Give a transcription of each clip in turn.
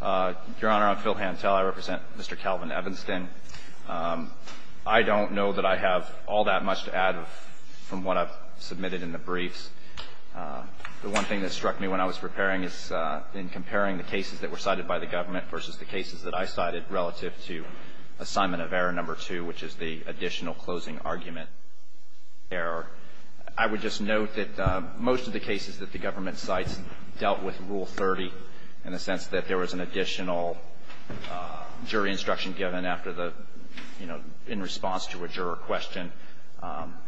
Your Honor, I'm Phil Hantel. I represent Mr. Calvin Evanston. I don't know that I have all that much to add from what I've submitted in the briefs. The one thing that struck me when I was preparing is in comparing the cases that were cited by the government versus the cases that I cited relative to assignment of error number two, which is the additional closing argument error. I would just note that most of the cases that the government cites dealt with Rule 30 in the sense that there was an additional jury instruction given after the, you know, in response to a juror question.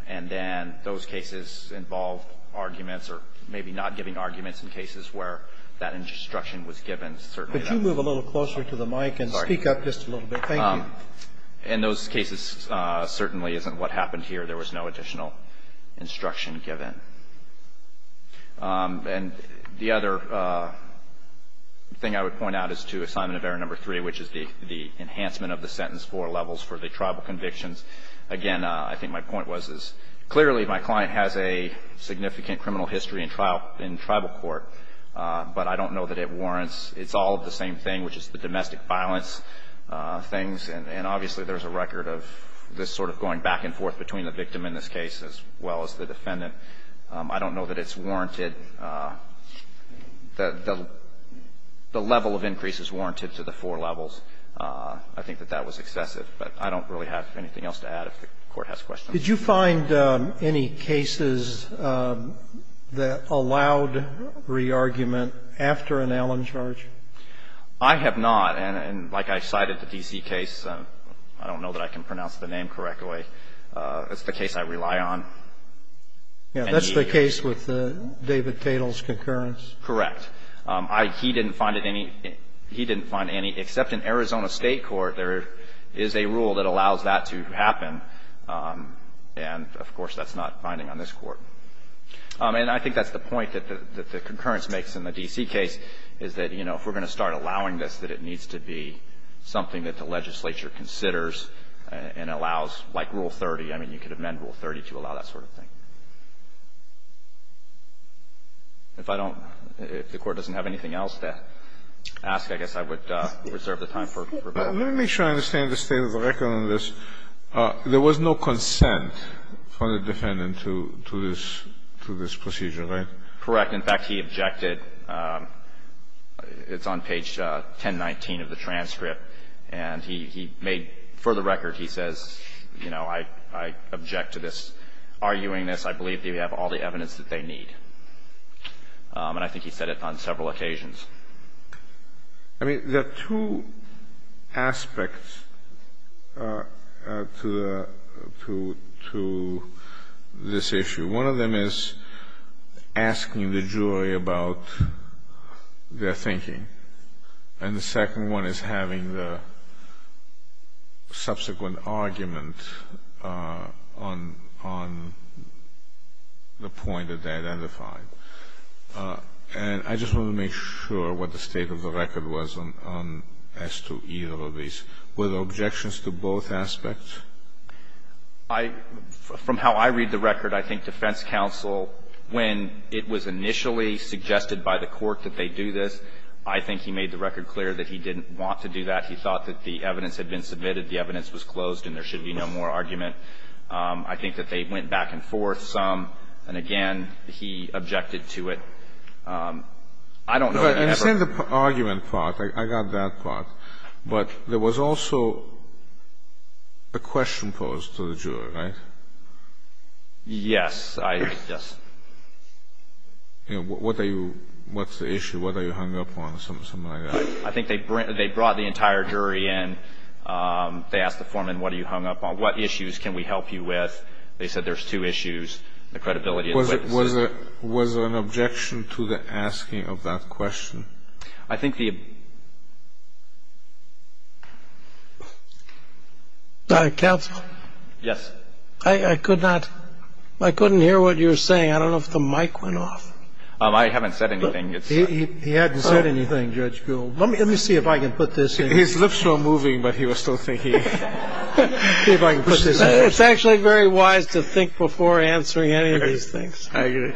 And then those cases involved arguments or maybe not giving arguments in cases where that instruction was given. Certainly, that's the case. Scalia. Could you move a little closer to the mic and speak up just a little bit? Thank you. In those cases, certainly isn't what happened here. There was no additional instruction given. And the other thing I would point out is to assignment of error number three, which is the enhancement of the sentence for levels for the tribal convictions. Again, I think my point was is clearly my client has a significant criminal history in trial in tribal court, but I don't know that it warrants. It's all the same thing, which is the domestic violence things. And obviously, there's a record of this sort of going back and forth between the victim in this case as well as the defendant. I don't know that it's warranted. The level of increase is warranted to the four levels. I think that that was excessive. But I don't really have anything else to add if the Court has questions. Did you find any cases that allowed re-argument after an Allen charge? I have not. And like I cited the D.C. case, I don't know that I can pronounce the name correctly. It's the case I rely on. That's the case with David Tatel's concurrence? Correct. He didn't find any, except in Arizona State Court, there is a rule that allows that to happen. And, of course, that's not binding on this Court. And I think that's the point that the concurrence makes in the D.C. case is that, you know, if we're going to start allowing this, that it needs to be something that the legislature considers and allows, like Rule 30. I mean, you could amend Rule 30 to allow that sort of thing. If I don't, if the Court doesn't have anything else to ask, I guess I would reserve the time for rebuttal. Let me make sure I understand the state of the record on this. There was no consent from the defendant to this procedure, right? Correct. In fact, he objected. It's on page 1019 of the transcript. And he made, for the record, he says, you know, I object to this arguing this. I believe they have all the evidence that they need. And I think he said it on several occasions. I mean, there are two aspects to the to this issue. One of them is asking the jury about their thinking. And the second one is having the subsequent argument on the point that they identified. And I just want to make sure what the state of the record was on as to either of these. Were there objections to both aspects? I — from how I read the record, I think defense counsel, when it was initially suggested by the court that they do this, I think he made the record clear that he didn't want to do that. He thought that the evidence had been submitted. The evidence was closed and there should be no more argument. I think that they went back and forth some. And, again, he objected to it. I don't know if he ever — But in the argument part, I got that part, but there was also a question posed to the jury, right? Yes. I — yes. What are you — what's the issue? What are you hung up on? Something like that. I think they brought the entire jury in. They asked the foreman, what are you hung up on? What issues can we help you with? They said there's two issues, the credibility and the witness. Was there an objection to the asking of that question? I think the — Counsel? Yes. I could not — I couldn't hear what you were saying. I don't know if the mic went off. I haven't said anything. He hadn't said anything, Judge Gould. Let me see if I can put this in. His lips were moving, but he was still thinking. See if I can put this in. It's actually very wise to think before answering any of these things. I agree.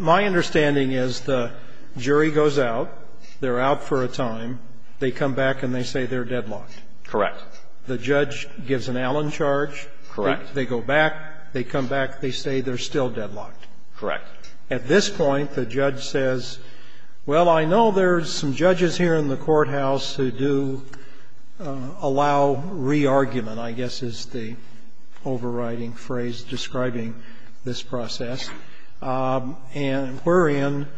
My understanding is the jury goes out. They're out for a time. They come back and they say they're deadlocked. Correct. The judge gives an Allen charge. Correct. They go back. They come back. They say they're still deadlocked. Correct. At this point, the judge says, well, I know there's some judges here in the courthouse who do allow re-argument, I guess is the overriding phrase describing this process. And we're in.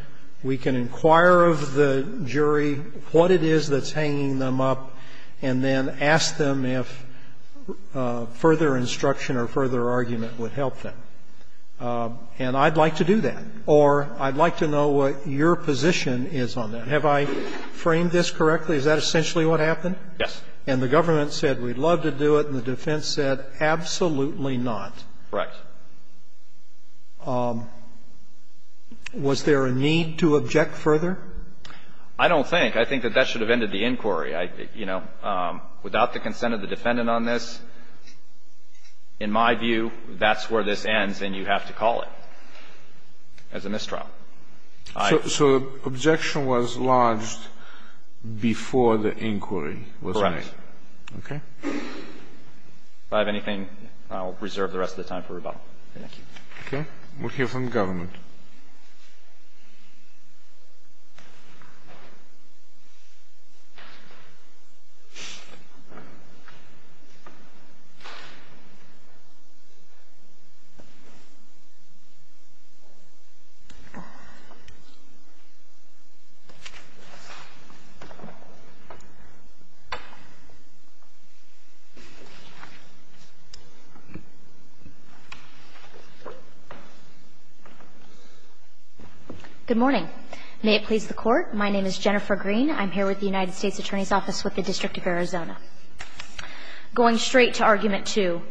We can inquire of the jury what it is that's hanging them up and then ask them if further instruction or further argument would help them. And I'd like to do that. Or I'd like to know what your position is on that. Have I framed this correctly? Is that essentially what happened? Yes. And the government said we'd love to do it, and the defense said absolutely not. Correct. Was there a need to object further? I don't think. I think that that should have ended the inquiry. You know, without the consent of the defendant on this, in my view, that's where this ends and you have to call it as a mistrial. So the objection was lodged before the inquiry was made. Correct. Okay. If I have anything, I'll reserve the rest of the time for rebuttal. Thank you. Okay. We'll hear from the government. Thank you. Good morning. May it please the Court. My name is Jennifer Green. I'm here with the United States Attorney's Office with the District of Arizona. Going straight to Argument 2,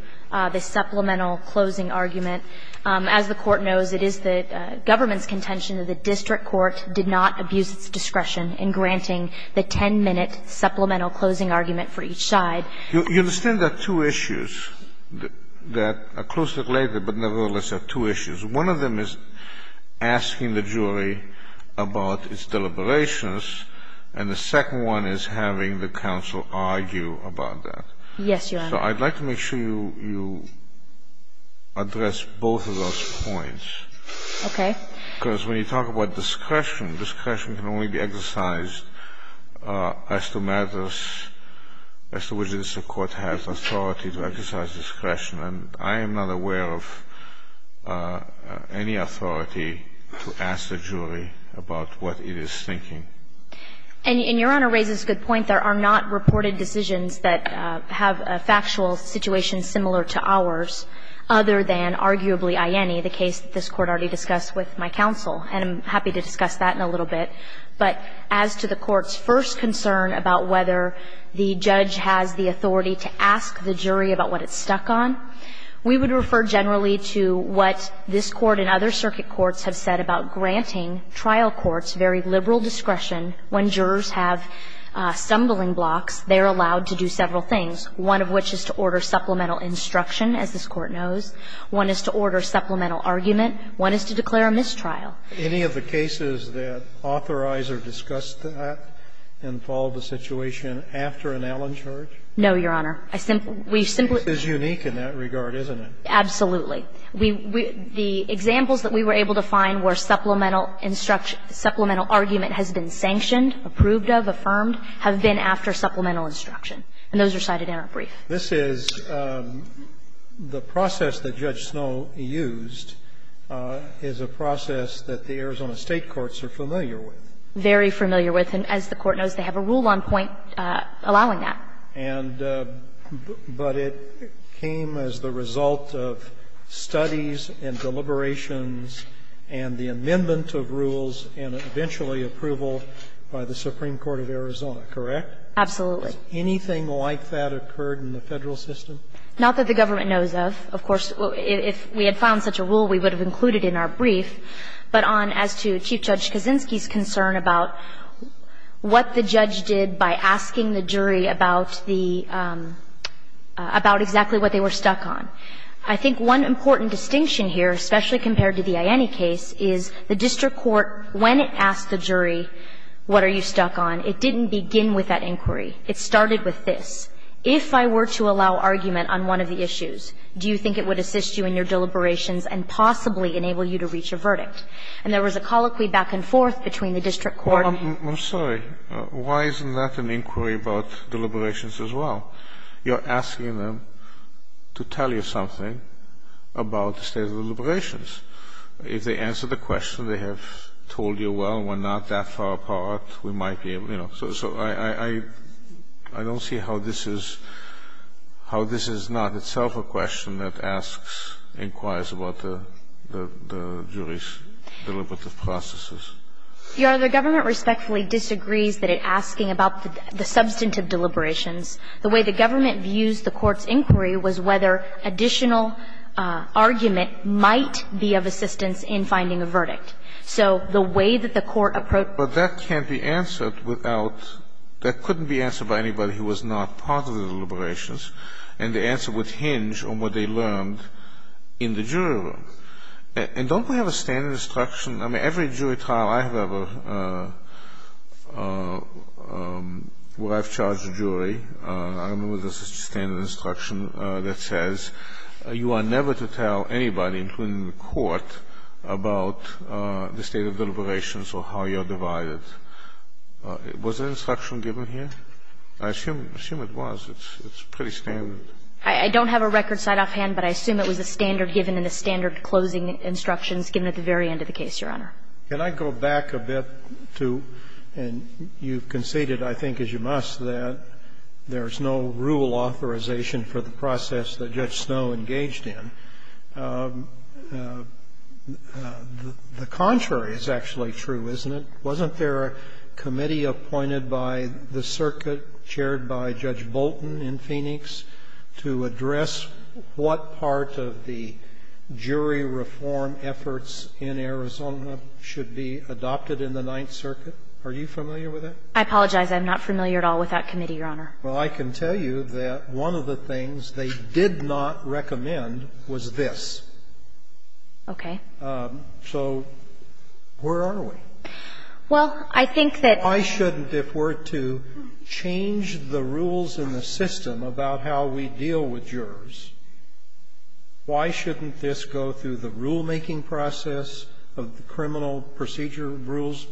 the supplemental closing argument, as the Court knows, it is the government's contention that the district court did not abuse its discretion in granting the 10-minute supplemental closing argument for each side. You understand there are two issues that are closely related, but nevertheless are two issues. One of them is asking the jury about its deliberations, and the second one is having the counsel argue about that. Yes, Your Honor. So I'd like to make sure you address both of those points. Okay. Because when you talk about discretion, discretion can only be exercised as to matters as to which the court has authority to exercise discretion. And I am not aware of any authority to ask the jury about what it is thinking. And Your Honor raises a good point. There are not reported decisions that have a factual situation similar to ours, other than arguably IENI, the case that this Court already discussed with my counsel. And I'm happy to discuss that in a little bit. But as to the Court's first concern about whether the judge has the authority to ask the jury about what it's stuck on, we would refer generally to what this Court and other circuit courts have said about granting trial courts very liberal discretion when jurors have stumbling blocks, they're allowed to do several things, one of which is to order supplemental instruction, as this Court knows, one is to order supplemental argument, one is to declare a mistrial. Any of the cases that authorizer discussed that involved a situation after an Allen charge? No, Your Honor. I simply we simply This is unique in that regard, isn't it? Absolutely. The examples that we were able to find where supplemental argument has been sanctioned, approved of, affirmed, have been after supplemental instruction. And those are cited in our brief. This is the process that Judge Snow used is a process that the Arizona State courts are familiar with. Very familiar with. And as the Court knows, they have a rule on point allowing that. And but it came as the result of studies and deliberations and the amendment of rules and eventually approval by the Supreme Court of Arizona, correct? Absolutely. Has anything like that occurred in the Federal system? Not that the government knows of. Of course, if we had found such a rule, we would have included in our brief. But on as to Chief Judge Kaczynski's concern about what the judge did by asking the jury about the about exactly what they were stuck on. I think one important distinction here, especially compared to the Iannie case, is the district court, when it asked the jury, what are you stuck on? It didn't begin with that inquiry. It started with this. If I were to allow argument on one of the issues, do you think it would assist you in your deliberations and possibly enable you to reach a verdict? And there was a colloquy back and forth between the district court I'm sorry. Why isn't that an inquiry about deliberations as well? You're asking them to tell you something about the state of the deliberations. If they answer the question, they have told you, well, we're not that far apart. We might be able to, you know. So I don't see how this is how this is not itself a question that asks, inquires about the jury's deliberative processes. You are the government respectfully disagrees that it asking about the substantive deliberations. The way the government views the court's inquiry was whether additional argument might be of assistance in finding a verdict. So the way that the court approached. But that can't be answered without, that couldn't be answered by anybody who was not part of the deliberations, and the answer would hinge on what they learned in the jury room. And don't we have a standard instruction? I mean, every jury trial I have ever, where I've charged a jury, I remember there was a standard instruction that says you are never to tell anybody, including the court, about the state of deliberations or how you're divided. Was that instruction given here? I assume it was. It's pretty standard. I don't have a record side off hand, but I assume it was a standard given in the standard closing instructions given at the very end of the case, Your Honor. Can I go back a bit to, and you conceded, I think, as you must, that there is no rule authorization for the process that Judge Snow engaged in. The contrary is actually true, isn't it? Wasn't there a committee appointed by the circuit, chaired by Judge Bolton in Phoenix, to address what part of the jury reform efforts in Arizona should be adopted in the Ninth Circuit? Are you familiar with that? I apologize. I'm not familiar at all with that committee, Your Honor. Well, I can tell you that one of the things they did not recommend was this. Okay. So where are we? Well, I think that I should, if we're to change the rules in the system about how we deal with jurors, why shouldn't this go through the rulemaking process of the Criminal Procedure Rules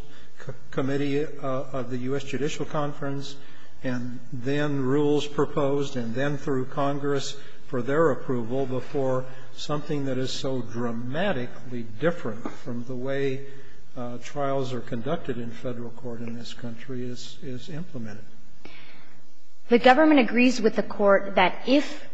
Committee of the U.S. Judicial Conference, and then rules proposed and then through Congress for their approval before something that is so dramatically different from the way trials are conducted in Federal court in this country is implemented? The government agrees with the court that if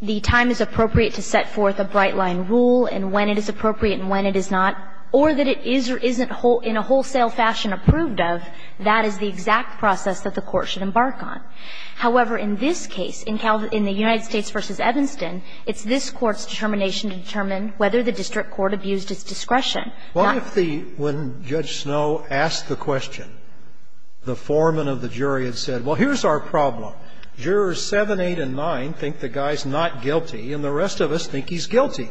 the time is appropriate to set forth a bright-line rule and when it is appropriate and when it is not, or that it is or isn't in a wholesale fashion approved of, that is the exact process that the court should embark on. However, in this case, in the United States v. Evanston, it's this Court's determination to determine whether the district court abused its discretion. Well, if the – when Judge Snow asked the question, the foreman of the jury had said, well, here's our problem. Jurors seven, eight and nine think the guy's not guilty, and the rest of us think he's guilty.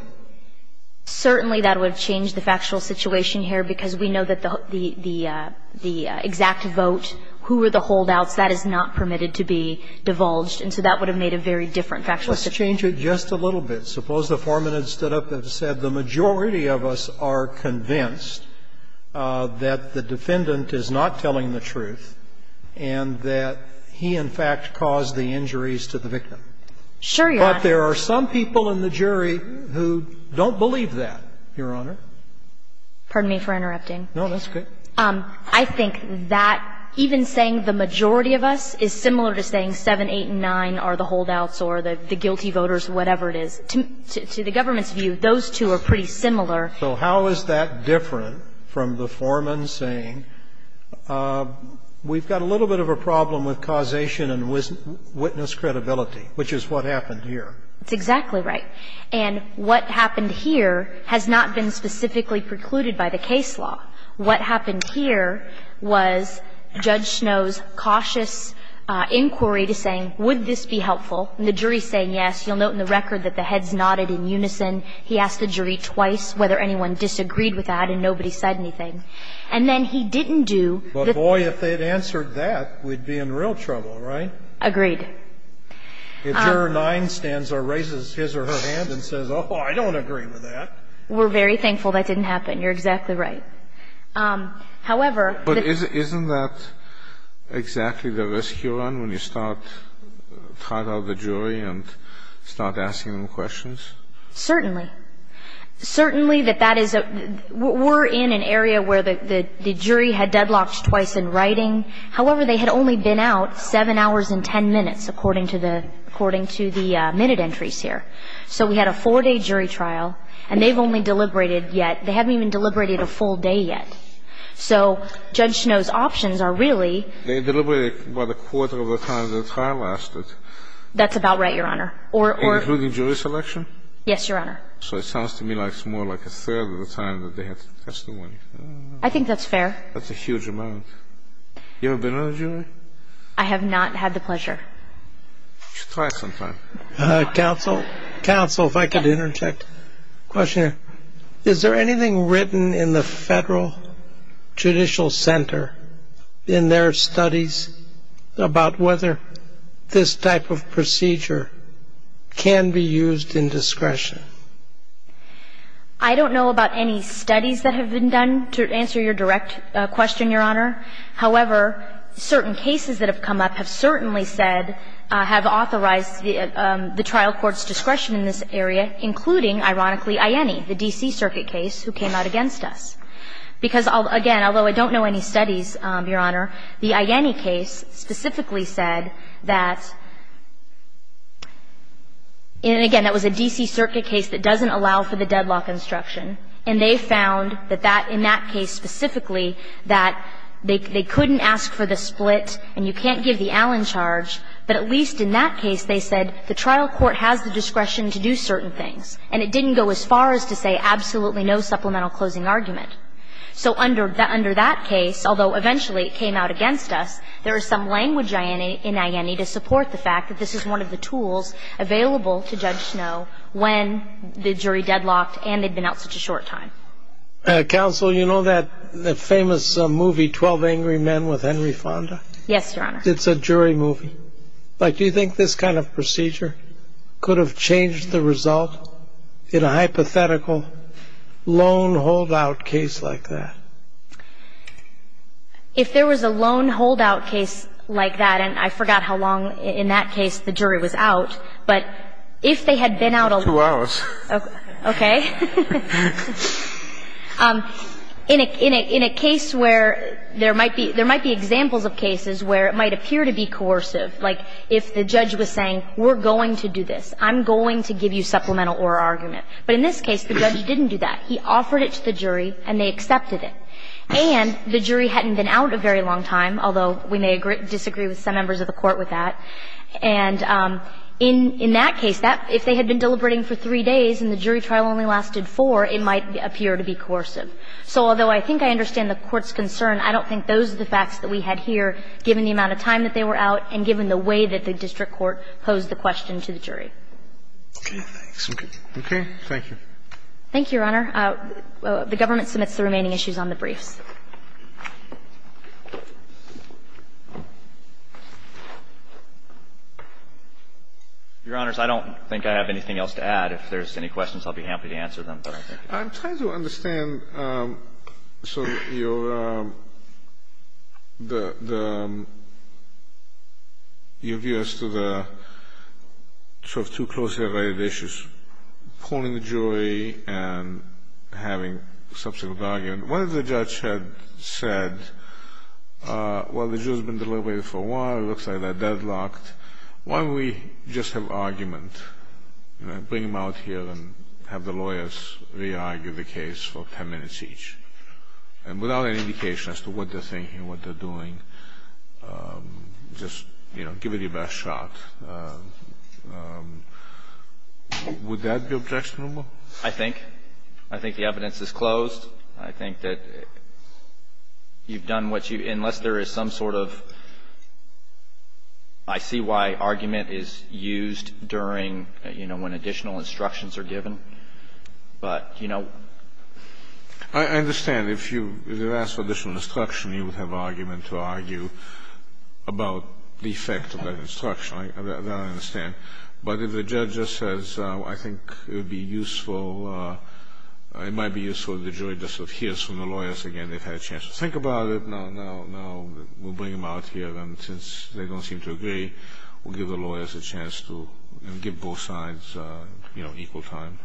Certainly, that would have changed the factual situation here because we know that the exact vote, who were the holdouts, that is not permitted to be divulged. And so that would have made a very different factual situation. Let's change it just a little bit. Suppose the foreman had stood up and said the majority of us are convinced that the defendant is not telling the truth and that he, in fact, caused the injuries to the victim. Sure, Your Honor. But there are some people in the jury who don't believe that, Your Honor. Pardon me for interrupting. No, that's okay. I think that even saying the majority of us is similar to saying seven, eight and nine are the holdouts or the guilty voters, whatever it is, to the government's view, those two are pretty similar. So how is that different from the foreman saying we've got a little bit of a problem with causation and witness credibility, which is what happened here? That's exactly right. And what happened here has not been specifically precluded by the case law. What happened here was Judge Snow's cautious inquiry to saying, would this be helpful? And the jury is saying yes. You'll note in the record that the heads nodded in unison. He asked the jury twice whether anyone disagreed with that, and nobody said anything. And then he didn't do the thing. But, boy, if they had answered that, we'd be in real trouble, right? Agreed. If juror 9 stands or raises his or her hand and says, oh, I don't agree with that. We're very thankful that didn't happen. You're exactly right. However... But isn't that exactly the risk you run when you start trying out the jury and start asking them questions? Certainly. Certainly that that is a we're in an area where the jury had deadlocked twice in writing. However, they had only been out 7 hours and 10 minutes, according to the minute entries here. So we had a four-day jury trial, and they've only deliberated yet. They haven't even deliberated a full day yet. So Judge Snow's options are really... They deliberated about a quarter of the time the trial lasted. That's about right, Your Honor. Including jury selection? Yes, Your Honor. So it sounds to me like it's more like a third of the time that they had to testify. I think that's fair. That's a huge amount. You ever been on a jury? I have not had the pleasure. You should try sometime. Counsel? Counsel, if I could interject. Question. Is there anything written in the Federal Judicial Center in their studies about whether this type of procedure can be used in discretion? I don't know about any studies that have been done, to answer your direct question, Your Honor. However, certain cases that have come up have certainly said, have authorized the trial court's discretion in this area, including, ironically, IENI, the D.C. Circuit case, who came out against us. Because, again, although I don't know any studies, Your Honor, the IENI case specifically said that, and again, that was a D.C. Circuit case that doesn't allow for the deadlock instruction, and they found that that, in that case specifically, that they couldn't ask for the split and you can't give the Allen charge, but at least in that case they said the trial court has the discretion to do certain things, and it didn't go as far as to say absolutely no supplemental closing argument. So under that case, although eventually it came out against us, there is some language in IENI to support the fact that this is one of the tools available to Judge Snow when the jury deadlocked and they'd been out such a short time. Counsel, you know that famous movie, Twelve Angry Men, with Henry Fonda? Yes, Your Honor. It's a jury movie. Like, do you think this kind of procedure could have changed the result in a hypothetical loan holdout case like that? If there was a loan holdout case like that, and I forgot how long in that case the jury was out, but if they had been out a long time, in a case where there might be examples of coercive, like if the judge was saying, we're going to do this, I'm going to give you supplemental or argument. But in this case, the judge didn't do that. He offered it to the jury and they accepted it. And the jury hadn't been out a very long time, although we may disagree with some members of the Court with that. And in that case, if they had been deliberating for three days and the jury trial only lasted four, it might appear to be coercive. So although I think I understand the Court's concern, I don't think those are the facts that we had here, given the amount of time that they were out and given the way that the district court posed the question to the jury. Okay, thanks. Okay, thank you. Thank you, Your Honor. The Government submits the remaining issues on the briefs. Your Honors, I don't think I have anything else to add. If there's any questions, I'll be happy to answer them. I'm trying to understand sort of your view as to the sort of two closely related issues, pulling the jury and having subsequent argument. What if the judge had said, well, the jury's been deliberating for a while, it looks like they're deadlocked, why don't we just have argument, you know, bring them out here and have the lawyers re-argue the case for 10 minutes each, and without any indication as to what they're thinking, what they're doing, just, you know, give it your best shot. Would that be objectionable? I think. I think the evidence is closed. I think that you've done what you unless there is some sort of, I see why argument is used during, you know, when additional instructions are given. But, you know. I understand. If you ask for additional instruction, you would have argument to argue about the effect of that instruction. I understand. But if the judge just says, I think it would be useful, it might be useful if the jury just adheres to the lawyers again. They've had a chance to think about it, no, no, no, we'll bring them out here. And since they don't seem to agree, we'll give the lawyers a chance to give both sides, you know, equal time.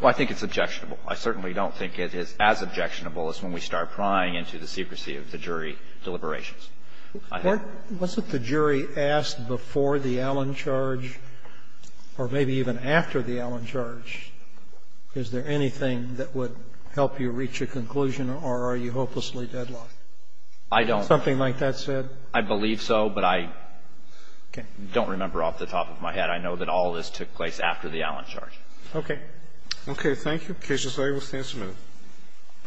Well, I think it's objectionable. I certainly don't think it is as objectionable as when we start prying into the secrecy of the jury deliberations. Wasn't the jury asked before the Allen charge or maybe even after the Allen charge, is there anything that would help you reach a conclusion or are you hopelessly deadlocked? I don't. Something like that said? I believe so, but I don't remember off the top of my head. I know that all of this took place after the Allen charge. Okay. Okay, thank you. Case resolved, we'll stand for a minute.